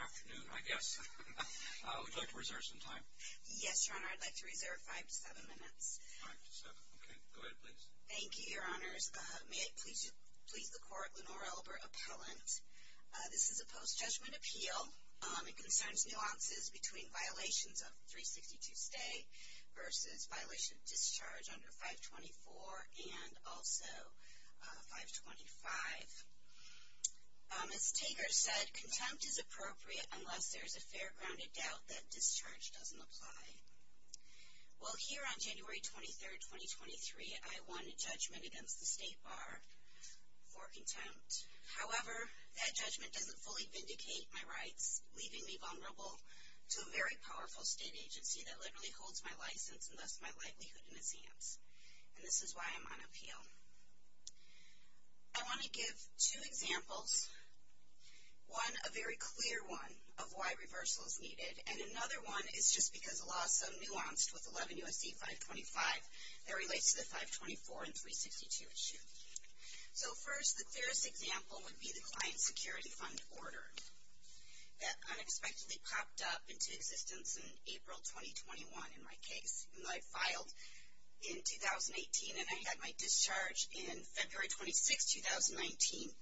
Afternoon, I guess. Would you like to reserve some time? Yes, Your Honor. I'd like to reserve five to seven minutes. Five to seven. Okay. Go ahead, please. Thank you, Your Honors. May it please the Court, Lenore Albert, Appellant. This is a post-judgment appeal. It concerns nuances between violations of 362-stay versus violation of discharge under 524 and also 525. As Tager said, contempt is appropriate unless there is a fair, grounded doubt that discharge doesn't apply. Well, here on January 23, 2023, I won judgment against the State Bar for contempt. However, that judgment doesn't fully vindicate my rights, leaving me vulnerable to a very powerful state agency that literally holds my license and thus my likelihood in its hands. And this is why I'm on appeal. I want to give two examples, one a very clear one of why reversal is needed, and another one is just because the law is so nuanced with 11 U.S.C. 525 that relates to the 524 and 362 issue. So first, the clearest example would be the Client Security Fund order that unexpectedly popped up into existence in April 2021 in my case. I filed in 2018, and I had my discharge in February 26, 2019,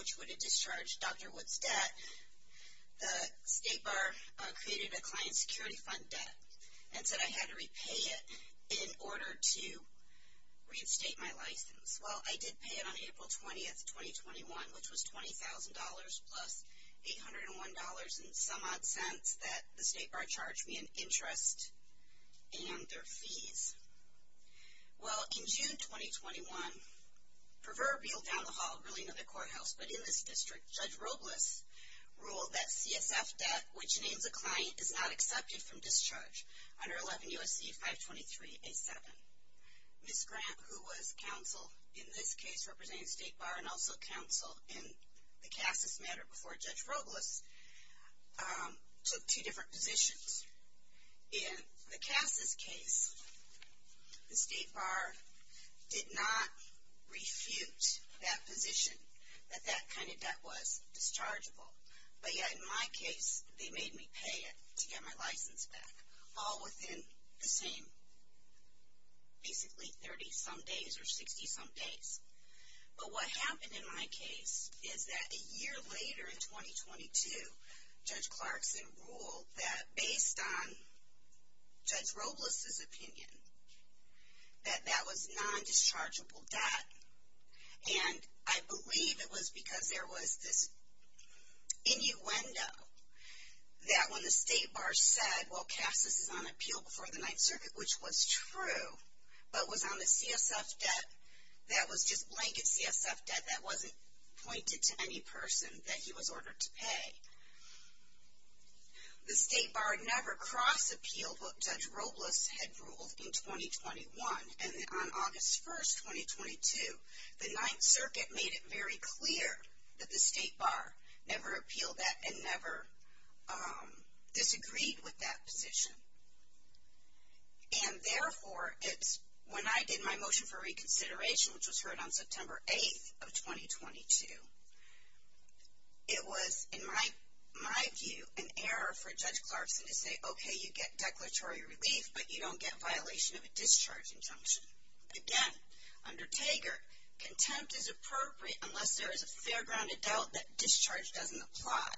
which would have discharged Dr. Woods' debt. The State Bar created a Client Security Fund debt and said I had to repay it in order to reinstate my license. Well, I did pay it on April 20, 2021, which was $20,000 plus $801 and some odd cents that the State Bar charged me in interest and their fees. Well, in June 2021, proverbial down-the-hall ruling of the courthouse, but in this district, Judge Robles ruled that CSF debt, which names a client, is not accepted from discharge under 11 U.S.C. 523A7. Ms. Grant, who was counsel in this case representing State Bar and also counsel in the CASAS matter before Judge Robles, took two different positions. In the CASAS case, the State Bar did not refute that position, that that kind of debt was dischargeable. But yet in my case, they made me pay it to get my license back, all within the same, basically 30-some days or 60-some days. But what happened in my case is that a year later in 2022, Judge Clarkson ruled that, based on Judge Robles' opinion, that that was non-dischargeable debt. And I believe it was because there was this innuendo that when the State Bar said, well, CASAS is on appeal before the Ninth Circuit, which was true, but was on the CSF debt that was just blanket CSF debt that wasn't pointed to any person that he was ordered to pay. The State Bar never cross-appealed what Judge Robles had ruled in 2021. And on August 1, 2022, the Ninth Circuit made it very clear that the State Bar never appealed that and never disagreed with that position. And therefore, when I did my motion for reconsideration, which was heard on September 8, 2022, it was, in my view, an error for Judge Clarkson to say, okay, you get declaratory relief, but you don't get violation of a discharge injunction. Again, under Taggart, contempt is appropriate unless there is a fair-grounded doubt that discharge doesn't apply.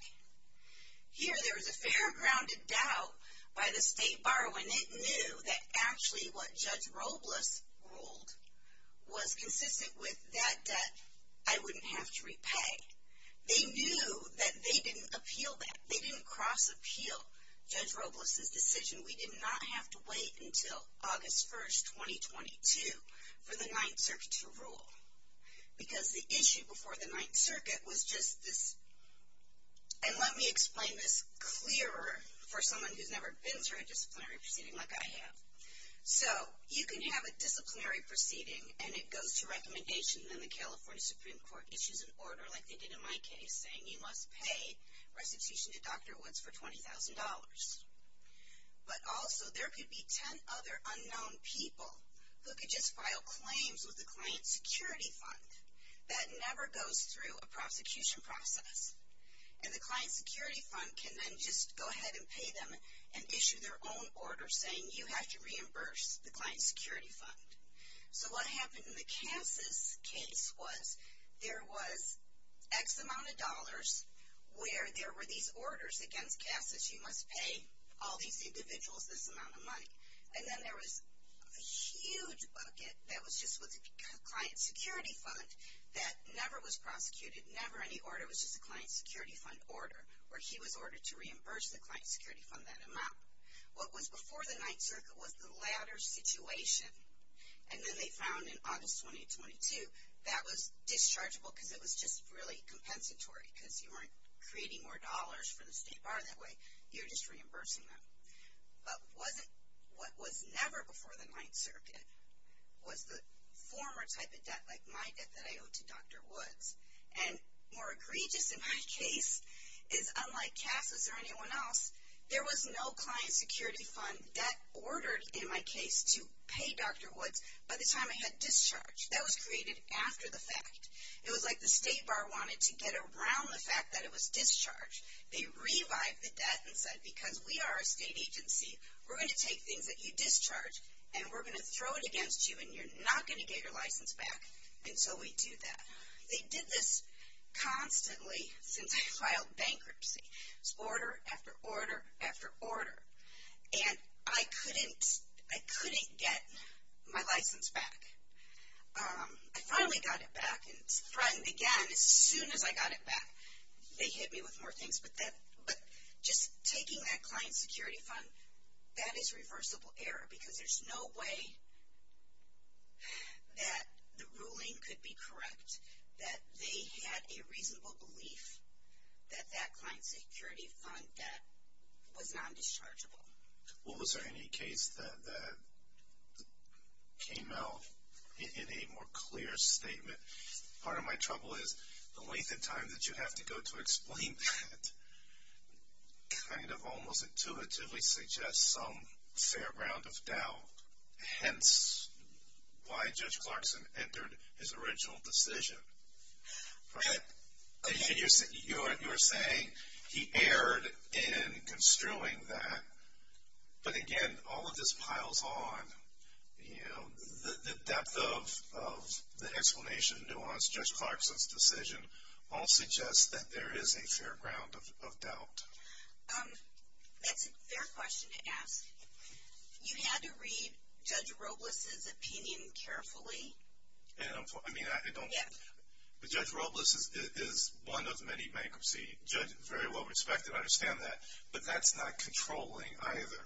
Here, there is a fair-grounded doubt by the State Bar when it knew that actually what Judge Robles ruled was consistent with that debt I wouldn't have to repay. They knew that they didn't appeal that. They didn't cross-appeal Judge Robles' decision. We did not have to wait until August 1, 2022, for the Ninth Circuit to rule. Because the issue before the Ninth Circuit was just this. And let me explain this clearer for someone who's never been through a disciplinary proceeding like I have. So, you can have a disciplinary proceeding, and it goes to recommendation, and then the California Supreme Court issues an order like they did in my case, saying you must pay restitution to Dr. Woods for $20,000. But also, there could be 10 other unknown people who could just file claims with the Client Security Fund. That never goes through a prosecution process. And the Client Security Fund can then just go ahead and pay them and issue their own order, saying you have to reimburse the Client Security Fund. So, what happened in the Casas case was there was X amount of dollars where there were these orders against Casas. You must pay all these individuals this amount of money. And then there was a huge bucket that was just with the Client Security Fund that never was prosecuted, never any order, it was just a Client Security Fund order, where he was ordered to reimburse the Client Security Fund that amount. What was before the Ninth Circuit was the latter situation. And then they found in August 2022, that was dischargeable because it was just really compensatory, because you weren't creating more dollars for the State Bar that way, you were just reimbursing them. But what was never before the Ninth Circuit was the former type of debt, like my debt that I owed to Dr. Woods. And more egregious in my case is unlike Casas or anyone else, there was no Client Security Fund debt ordered in my case to pay Dr. Woods by the time I had discharged. That was created after the fact. It was like the State Bar wanted to get around the fact that it was discharged. They revived the debt and said, because we are a state agency, we're going to take things that you discharge, and we're going to throw it against you, and you're not going to get your license back until we do that. They did this constantly since I filed bankruptcy. It was order after order after order. And I couldn't get my license back. I finally got it back, and again, as soon as I got it back, they hit me with more things. But just taking that Client Security Fund, that is reversible error, because there's no way that the ruling could be correct, that they had a reasonable belief that that Client Security Fund debt was non-dischargeable. Well, was there any case that came out in a more clear statement? Part of my trouble is the length of time that you have to go to explain that kind of almost intuitively suggests some fair ground of doubt, hence why Judge Clarkson entered his original decision. Right? You're saying he erred in construing that, but again, all of this piles on. You know, the depth of the explanation, nuance, Judge Clarkson's decision, all suggests that there is a fair ground of doubt. That's a fair question to ask. You had to read Judge Robles' opinion carefully. I mean, Judge Robles is one of many bankruptcy judges, very well respected, I understand that. But that's not controlling either.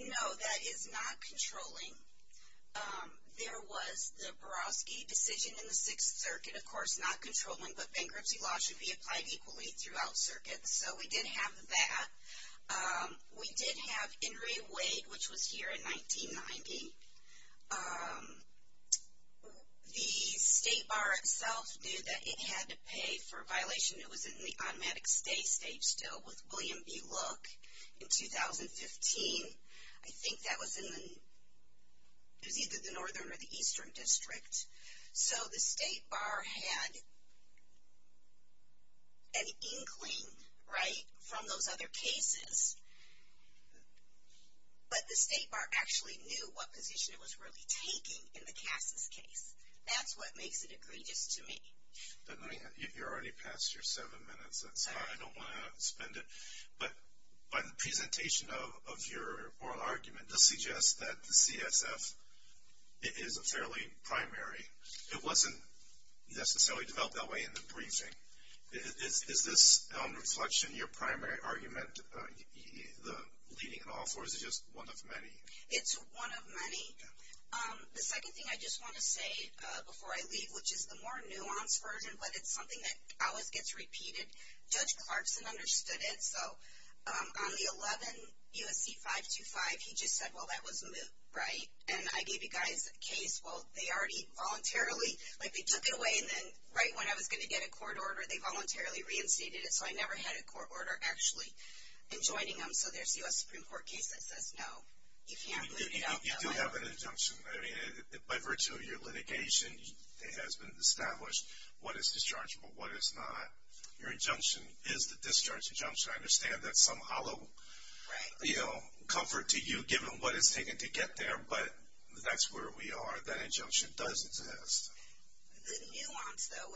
No, that is not controlling. There was the Barofsky decision in the Sixth Circuit, of course not controlling, but bankruptcy law should be applied equally throughout circuits, so we did have that. We did have Henry Wade, which was here in 1990. The State Bar itself knew that it had to pay for a violation that was in the automatic stay stage still with William B. Look in 2015. I think that was in either the Northern or the Eastern District. So the State Bar had an inkling, right, from those other cases, but the State Bar actually knew what position it was really taking in the Cass's case. That's what makes it egregious to me. You're already past your seven minutes. That's fine. I don't want to spend it. But by the presentation of your oral argument, this suggests that the CSF is a fairly primary. It wasn't necessarily developed that way in the briefing. Is this, in reflection, your primary argument, the leading in all fours, or is it just one of many? It's one of many. The second thing I just want to say before I leave, which is the more nuanced version, but it's something that always gets repeated. Judge Clarkson understood it. So on the 11 U.S.C. 525, he just said, well, that was moot, right? And I gave you guys a case. Well, they already voluntarily, like they took it away, and then right when I was going to get a court order, they voluntarily reinstated it, so I never had a court order actually enjoining them. So there's the U.S. Supreme Court case that says no, you can't moot it out that way. You do have an injunction. I mean, by virtue of your litigation, it has been established what is dischargeable, what is not. Your injunction is the discharge injunction. I understand that's some hollow, you know, comfort to you given what it's taken to get there, but that's where we are. That injunction does exist. The nuance, though,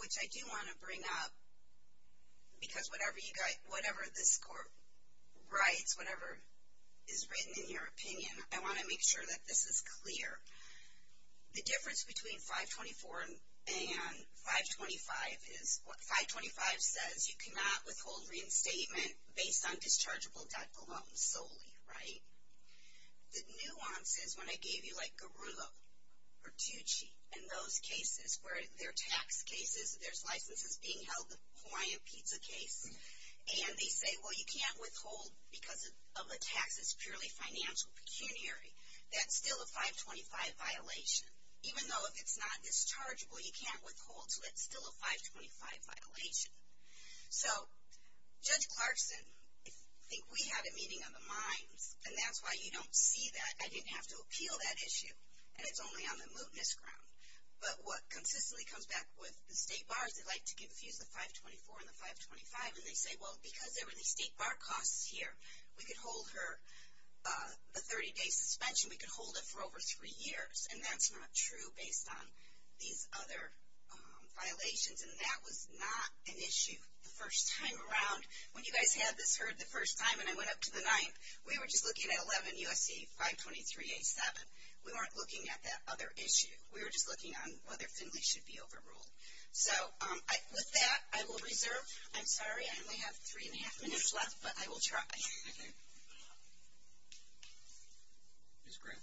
which I do want to bring up because whatever this court writes, whatever is written in your opinion, I want to make sure that this is clear. The difference between 524 and 525 is what 525 says, you cannot withhold reinstatement based on dischargeable debt alone solely, right? The nuance is when I gave you, like, Garula or Tucci and those cases where they're tax cases, there's licenses being held, the Hawaiian pizza case, and they say, well, you can't withhold because of a tax that's purely financial, pecuniary. That's still a 525 violation. Even though if it's not dischargeable, you can't withhold, so that's still a 525 violation. So Judge Clarkson, I think we had a meeting on the minds, and that's why you don't see that. I didn't have to appeal that issue, and it's only on the mootness ground. But what consistently comes back with the state bars, they like to confuse the 524 and the 525, and they say, well, because there were these state bar costs here, we could hold her, the 30-day suspension, we could hold it for over three years, and that's not true based on these other violations. And that was not an issue the first time around. When you guys had this heard the first time, and I went up to the ninth, we were just looking at 11 U.S.C. 523A7. We weren't looking at that other issue. We were just looking on whether Finley should be overruled. So with that, I will reserve. I'm sorry, I only have three and a half minutes left, but I will try. Thank you. Ms. Grant.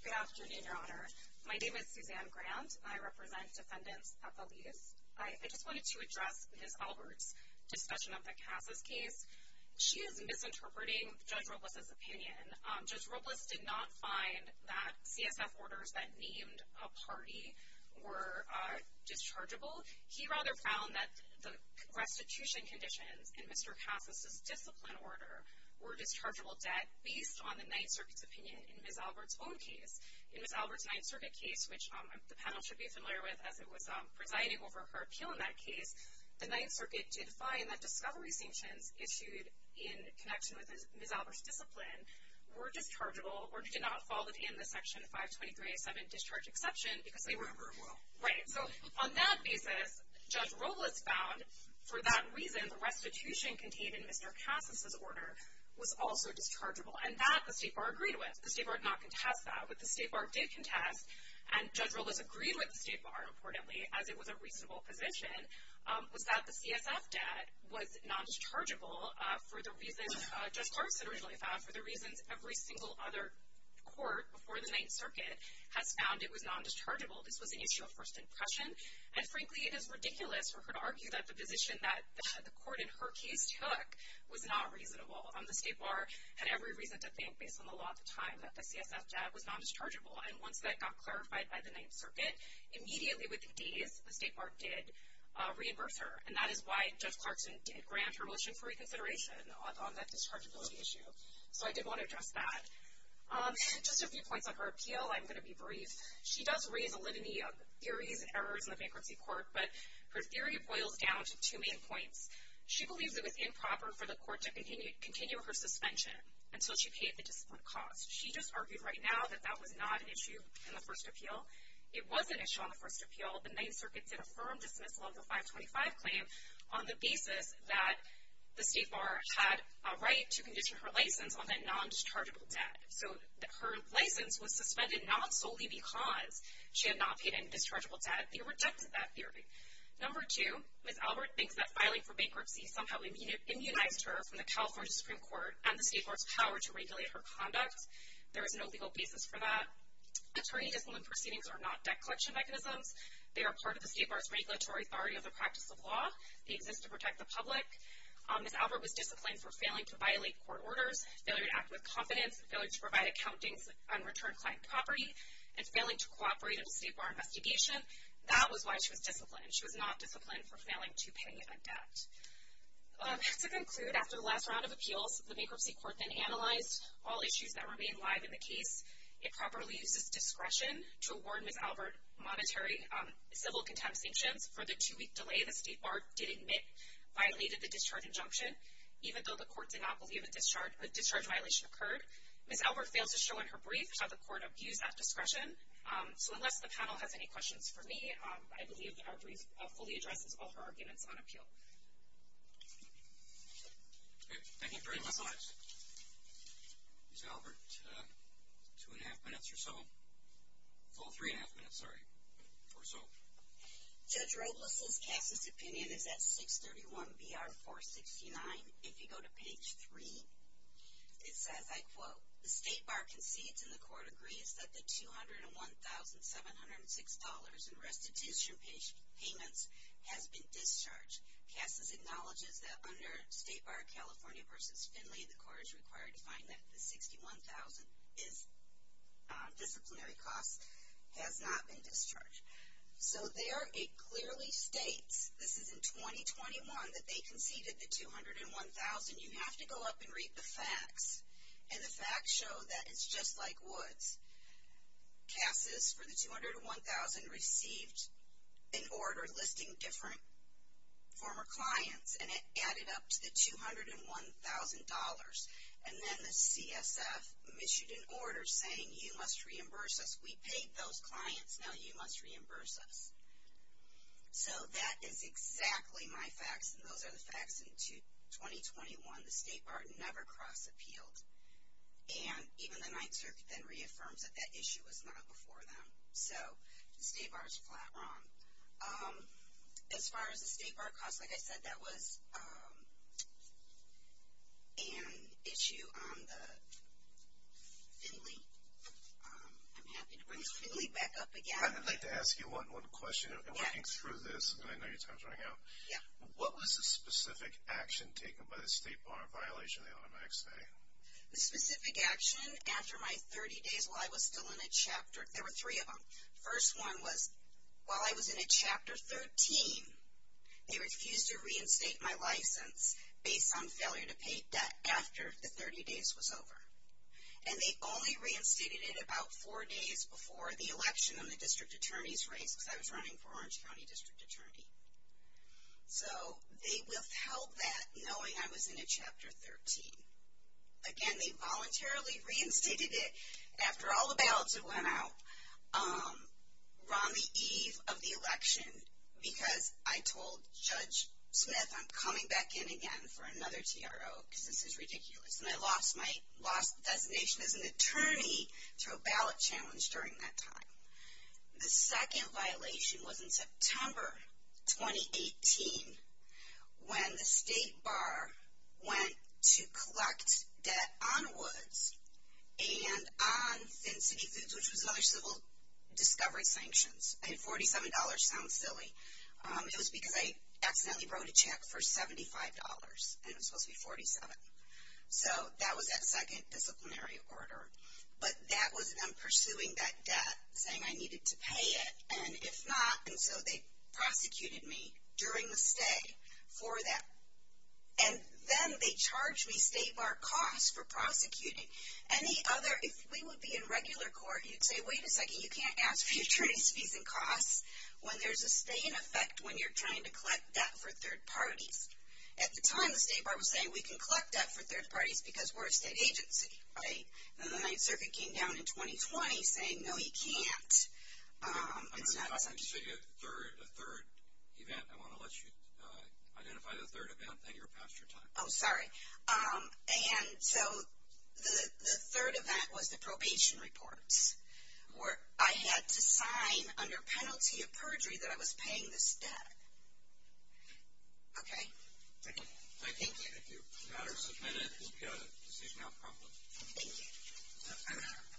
Good afternoon, Your Honor. My name is Suzanne Grant, and I represent defendants at the lease. I just wanted to address Ms. Albert's discussion of the CASA's case. She is misinterpreting Judge Robles' opinion. Judge Robles did not find that CSF orders that named a party were dischargeable. He rather found that the restitution conditions in Mr. CASA's discipline order were dischargeable debt based on the Ninth Circuit's opinion in Ms. Albert's own case. In Ms. Albert's Ninth Circuit case, which the panel should be familiar with, as it was presiding over her appeal in that case, the Ninth Circuit did find that discovery sanctions issued in connection with Ms. Robles were dischargeable or did not fall within the Section 523A7 discharge exception. They were overruled. Right. So on that basis, Judge Robles found, for that reason, the restitution contained in Mr. CASA's order was also dischargeable, and that the State Bar agreed with. The State Bar did not contest that, but the State Bar did contest, and Judge Robles agreed with the State Bar, importantly, as it was a reasonable position, was that the CSF debt was non-dischargeable for the reasons Judge Clarkson originally found, for the reasons every single other court before the Ninth Circuit has found it was non-dischargeable. This was an issue of first impression, and frankly it is ridiculous for her to argue that the position that the court in her case took was not reasonable. The State Bar had every reason to think, based on the law at the time, that the CSF debt was non-dischargeable, and once that got clarified by the Ninth Circuit, immediately within days, the State Bar did reimburse her, and that is why Judge Clarkson did grant her motion for reconsideration on that dischargeability issue. So I did want to address that. Just a few points on her appeal, I'm going to be brief. She does raise a litany of theories and errors in the bankruptcy court, but her theory boils down to two main points. She believes it was improper for the court to continue her suspension until she paid the discipline cost. She just argued right now that that was not an issue in the first appeal. It was an issue on the first appeal. The Ninth Circuit did affirm dismissal of the 525 claim, on the basis that the State Bar had a right to condition her license on that non-dischargeable debt. So her license was suspended not solely because she had not paid any dischargeable debt. They rejected that theory. Number two, Ms. Albert thinks that filing for bankruptcy somehow immunized her from the California Supreme Court and the State Bar's power to regulate her conduct. There is no legal basis for that. Attorney discipline proceedings are not debt collection mechanisms. They are part of the State Bar's regulatory authority of the practice of law. They exist to protect the public. Ms. Albert was disciplined for failing to violate court orders, failure to act with confidence, failure to provide accountings on returned client property, and failing to cooperate in the State Bar investigation. That was why she was disciplined. She was not disciplined for failing to pay a debt. To conclude, after the last round of appeals, the bankruptcy court then analyzed all issues that remain live in the case. It properly uses discretion to award Ms. Albert monetary civil contempt sanctions for the two-week delay the State Bar did admit violated the discharge injunction, even though the court did not believe a discharge violation occurred. Ms. Albert fails to show in her brief how the court abused that discretion. So unless the panel has any questions for me, I believe our brief fully addresses all her arguments on appeal. Thank you. Thank you very much. Ms. Albert, two-and-a-half minutes or so. Oh, three-and-a-half minutes, sorry, or so. Judge Robles' case's opinion is at 631-BR-469. If you go to page 3, it says, I quote, The State Bar concedes and the court agrees that the $201,706 in restitution payments has been discharged. CASA acknowledges that under State Bar California v. Finley, the court is required to find that the $61,000 in disciplinary costs has not been discharged. So there it clearly states, this is in 2021, that they conceded the $201,000. You have to go up and read the facts, and the facts show that it's just like Woods. CASA's for the $201,000 received an order listing different former clients, and it added up to the $201,000. And then the CSF issued an order saying, you must reimburse us. We paid those clients, now you must reimburse us. So that is exactly my facts, and those are the facts in 2021. The State Bar never cross-appealed. And even the Ninth Circuit then reaffirms that that issue was not before them. So the State Bar's flat wrong. As far as the State Bar costs, like I said, that was an issue on the Finley. I'm happy to bring Finley back up again. I'd like to ask you one question. Working through this, and I know your time's running out. Yeah. What was the specific action taken by the State Bar in violation of the automatic stay? The specific action after my 30 days while I was still in a chapter, there were three of them. The first one was while I was in a Chapter 13, they refused to reinstate my license based on failure to pay debt after the 30 days was over. And they only reinstated it about four days before the election and the district attorney's race, because I was running for Orange County District Attorney. So they withheld that, knowing I was in a Chapter 13. Again, they voluntarily reinstated it after all the ballots had went out, on the eve of the election, because I told Judge Smith I'm coming back in again for another TRO, because this is ridiculous. And I lost my designation as an attorney to a ballot challenge during that time. The second violation was in September 2018, when the State Bar went to collect debt on Woods and on Thin City Foods, which was another civil discovery sanctions. I mean, $47 sounds silly. It was because I accidentally wrote a check for $75, and it was supposed to be $47. So that was that second disciplinary order. But that was them pursuing that debt, saying I needed to pay it. And if not, and so they prosecuted me during the stay for that. And then they charged me State Bar costs for prosecuting. Any other, if we would be in regular court, you'd say, wait a second, you can't ask for your attorney's fees and costs when there's a stay in effect when you're trying to collect debt for third parties. At the time, the State Bar was saying we can collect debt for third parties because we're a state agency. And then the Ninth Circuit came down in 2020 saying, no, you can't. I'm sorry, you said you had a third event. I want to let you identify the third event. Thank you. You're past your time. Oh, sorry. And so the third event was the probation reports, where I had to sign under penalty of perjury that I was paying this debt. Okay. Thank you. Thank you. If you'd rather submit it, we've got it. This is not a problem. Thank you.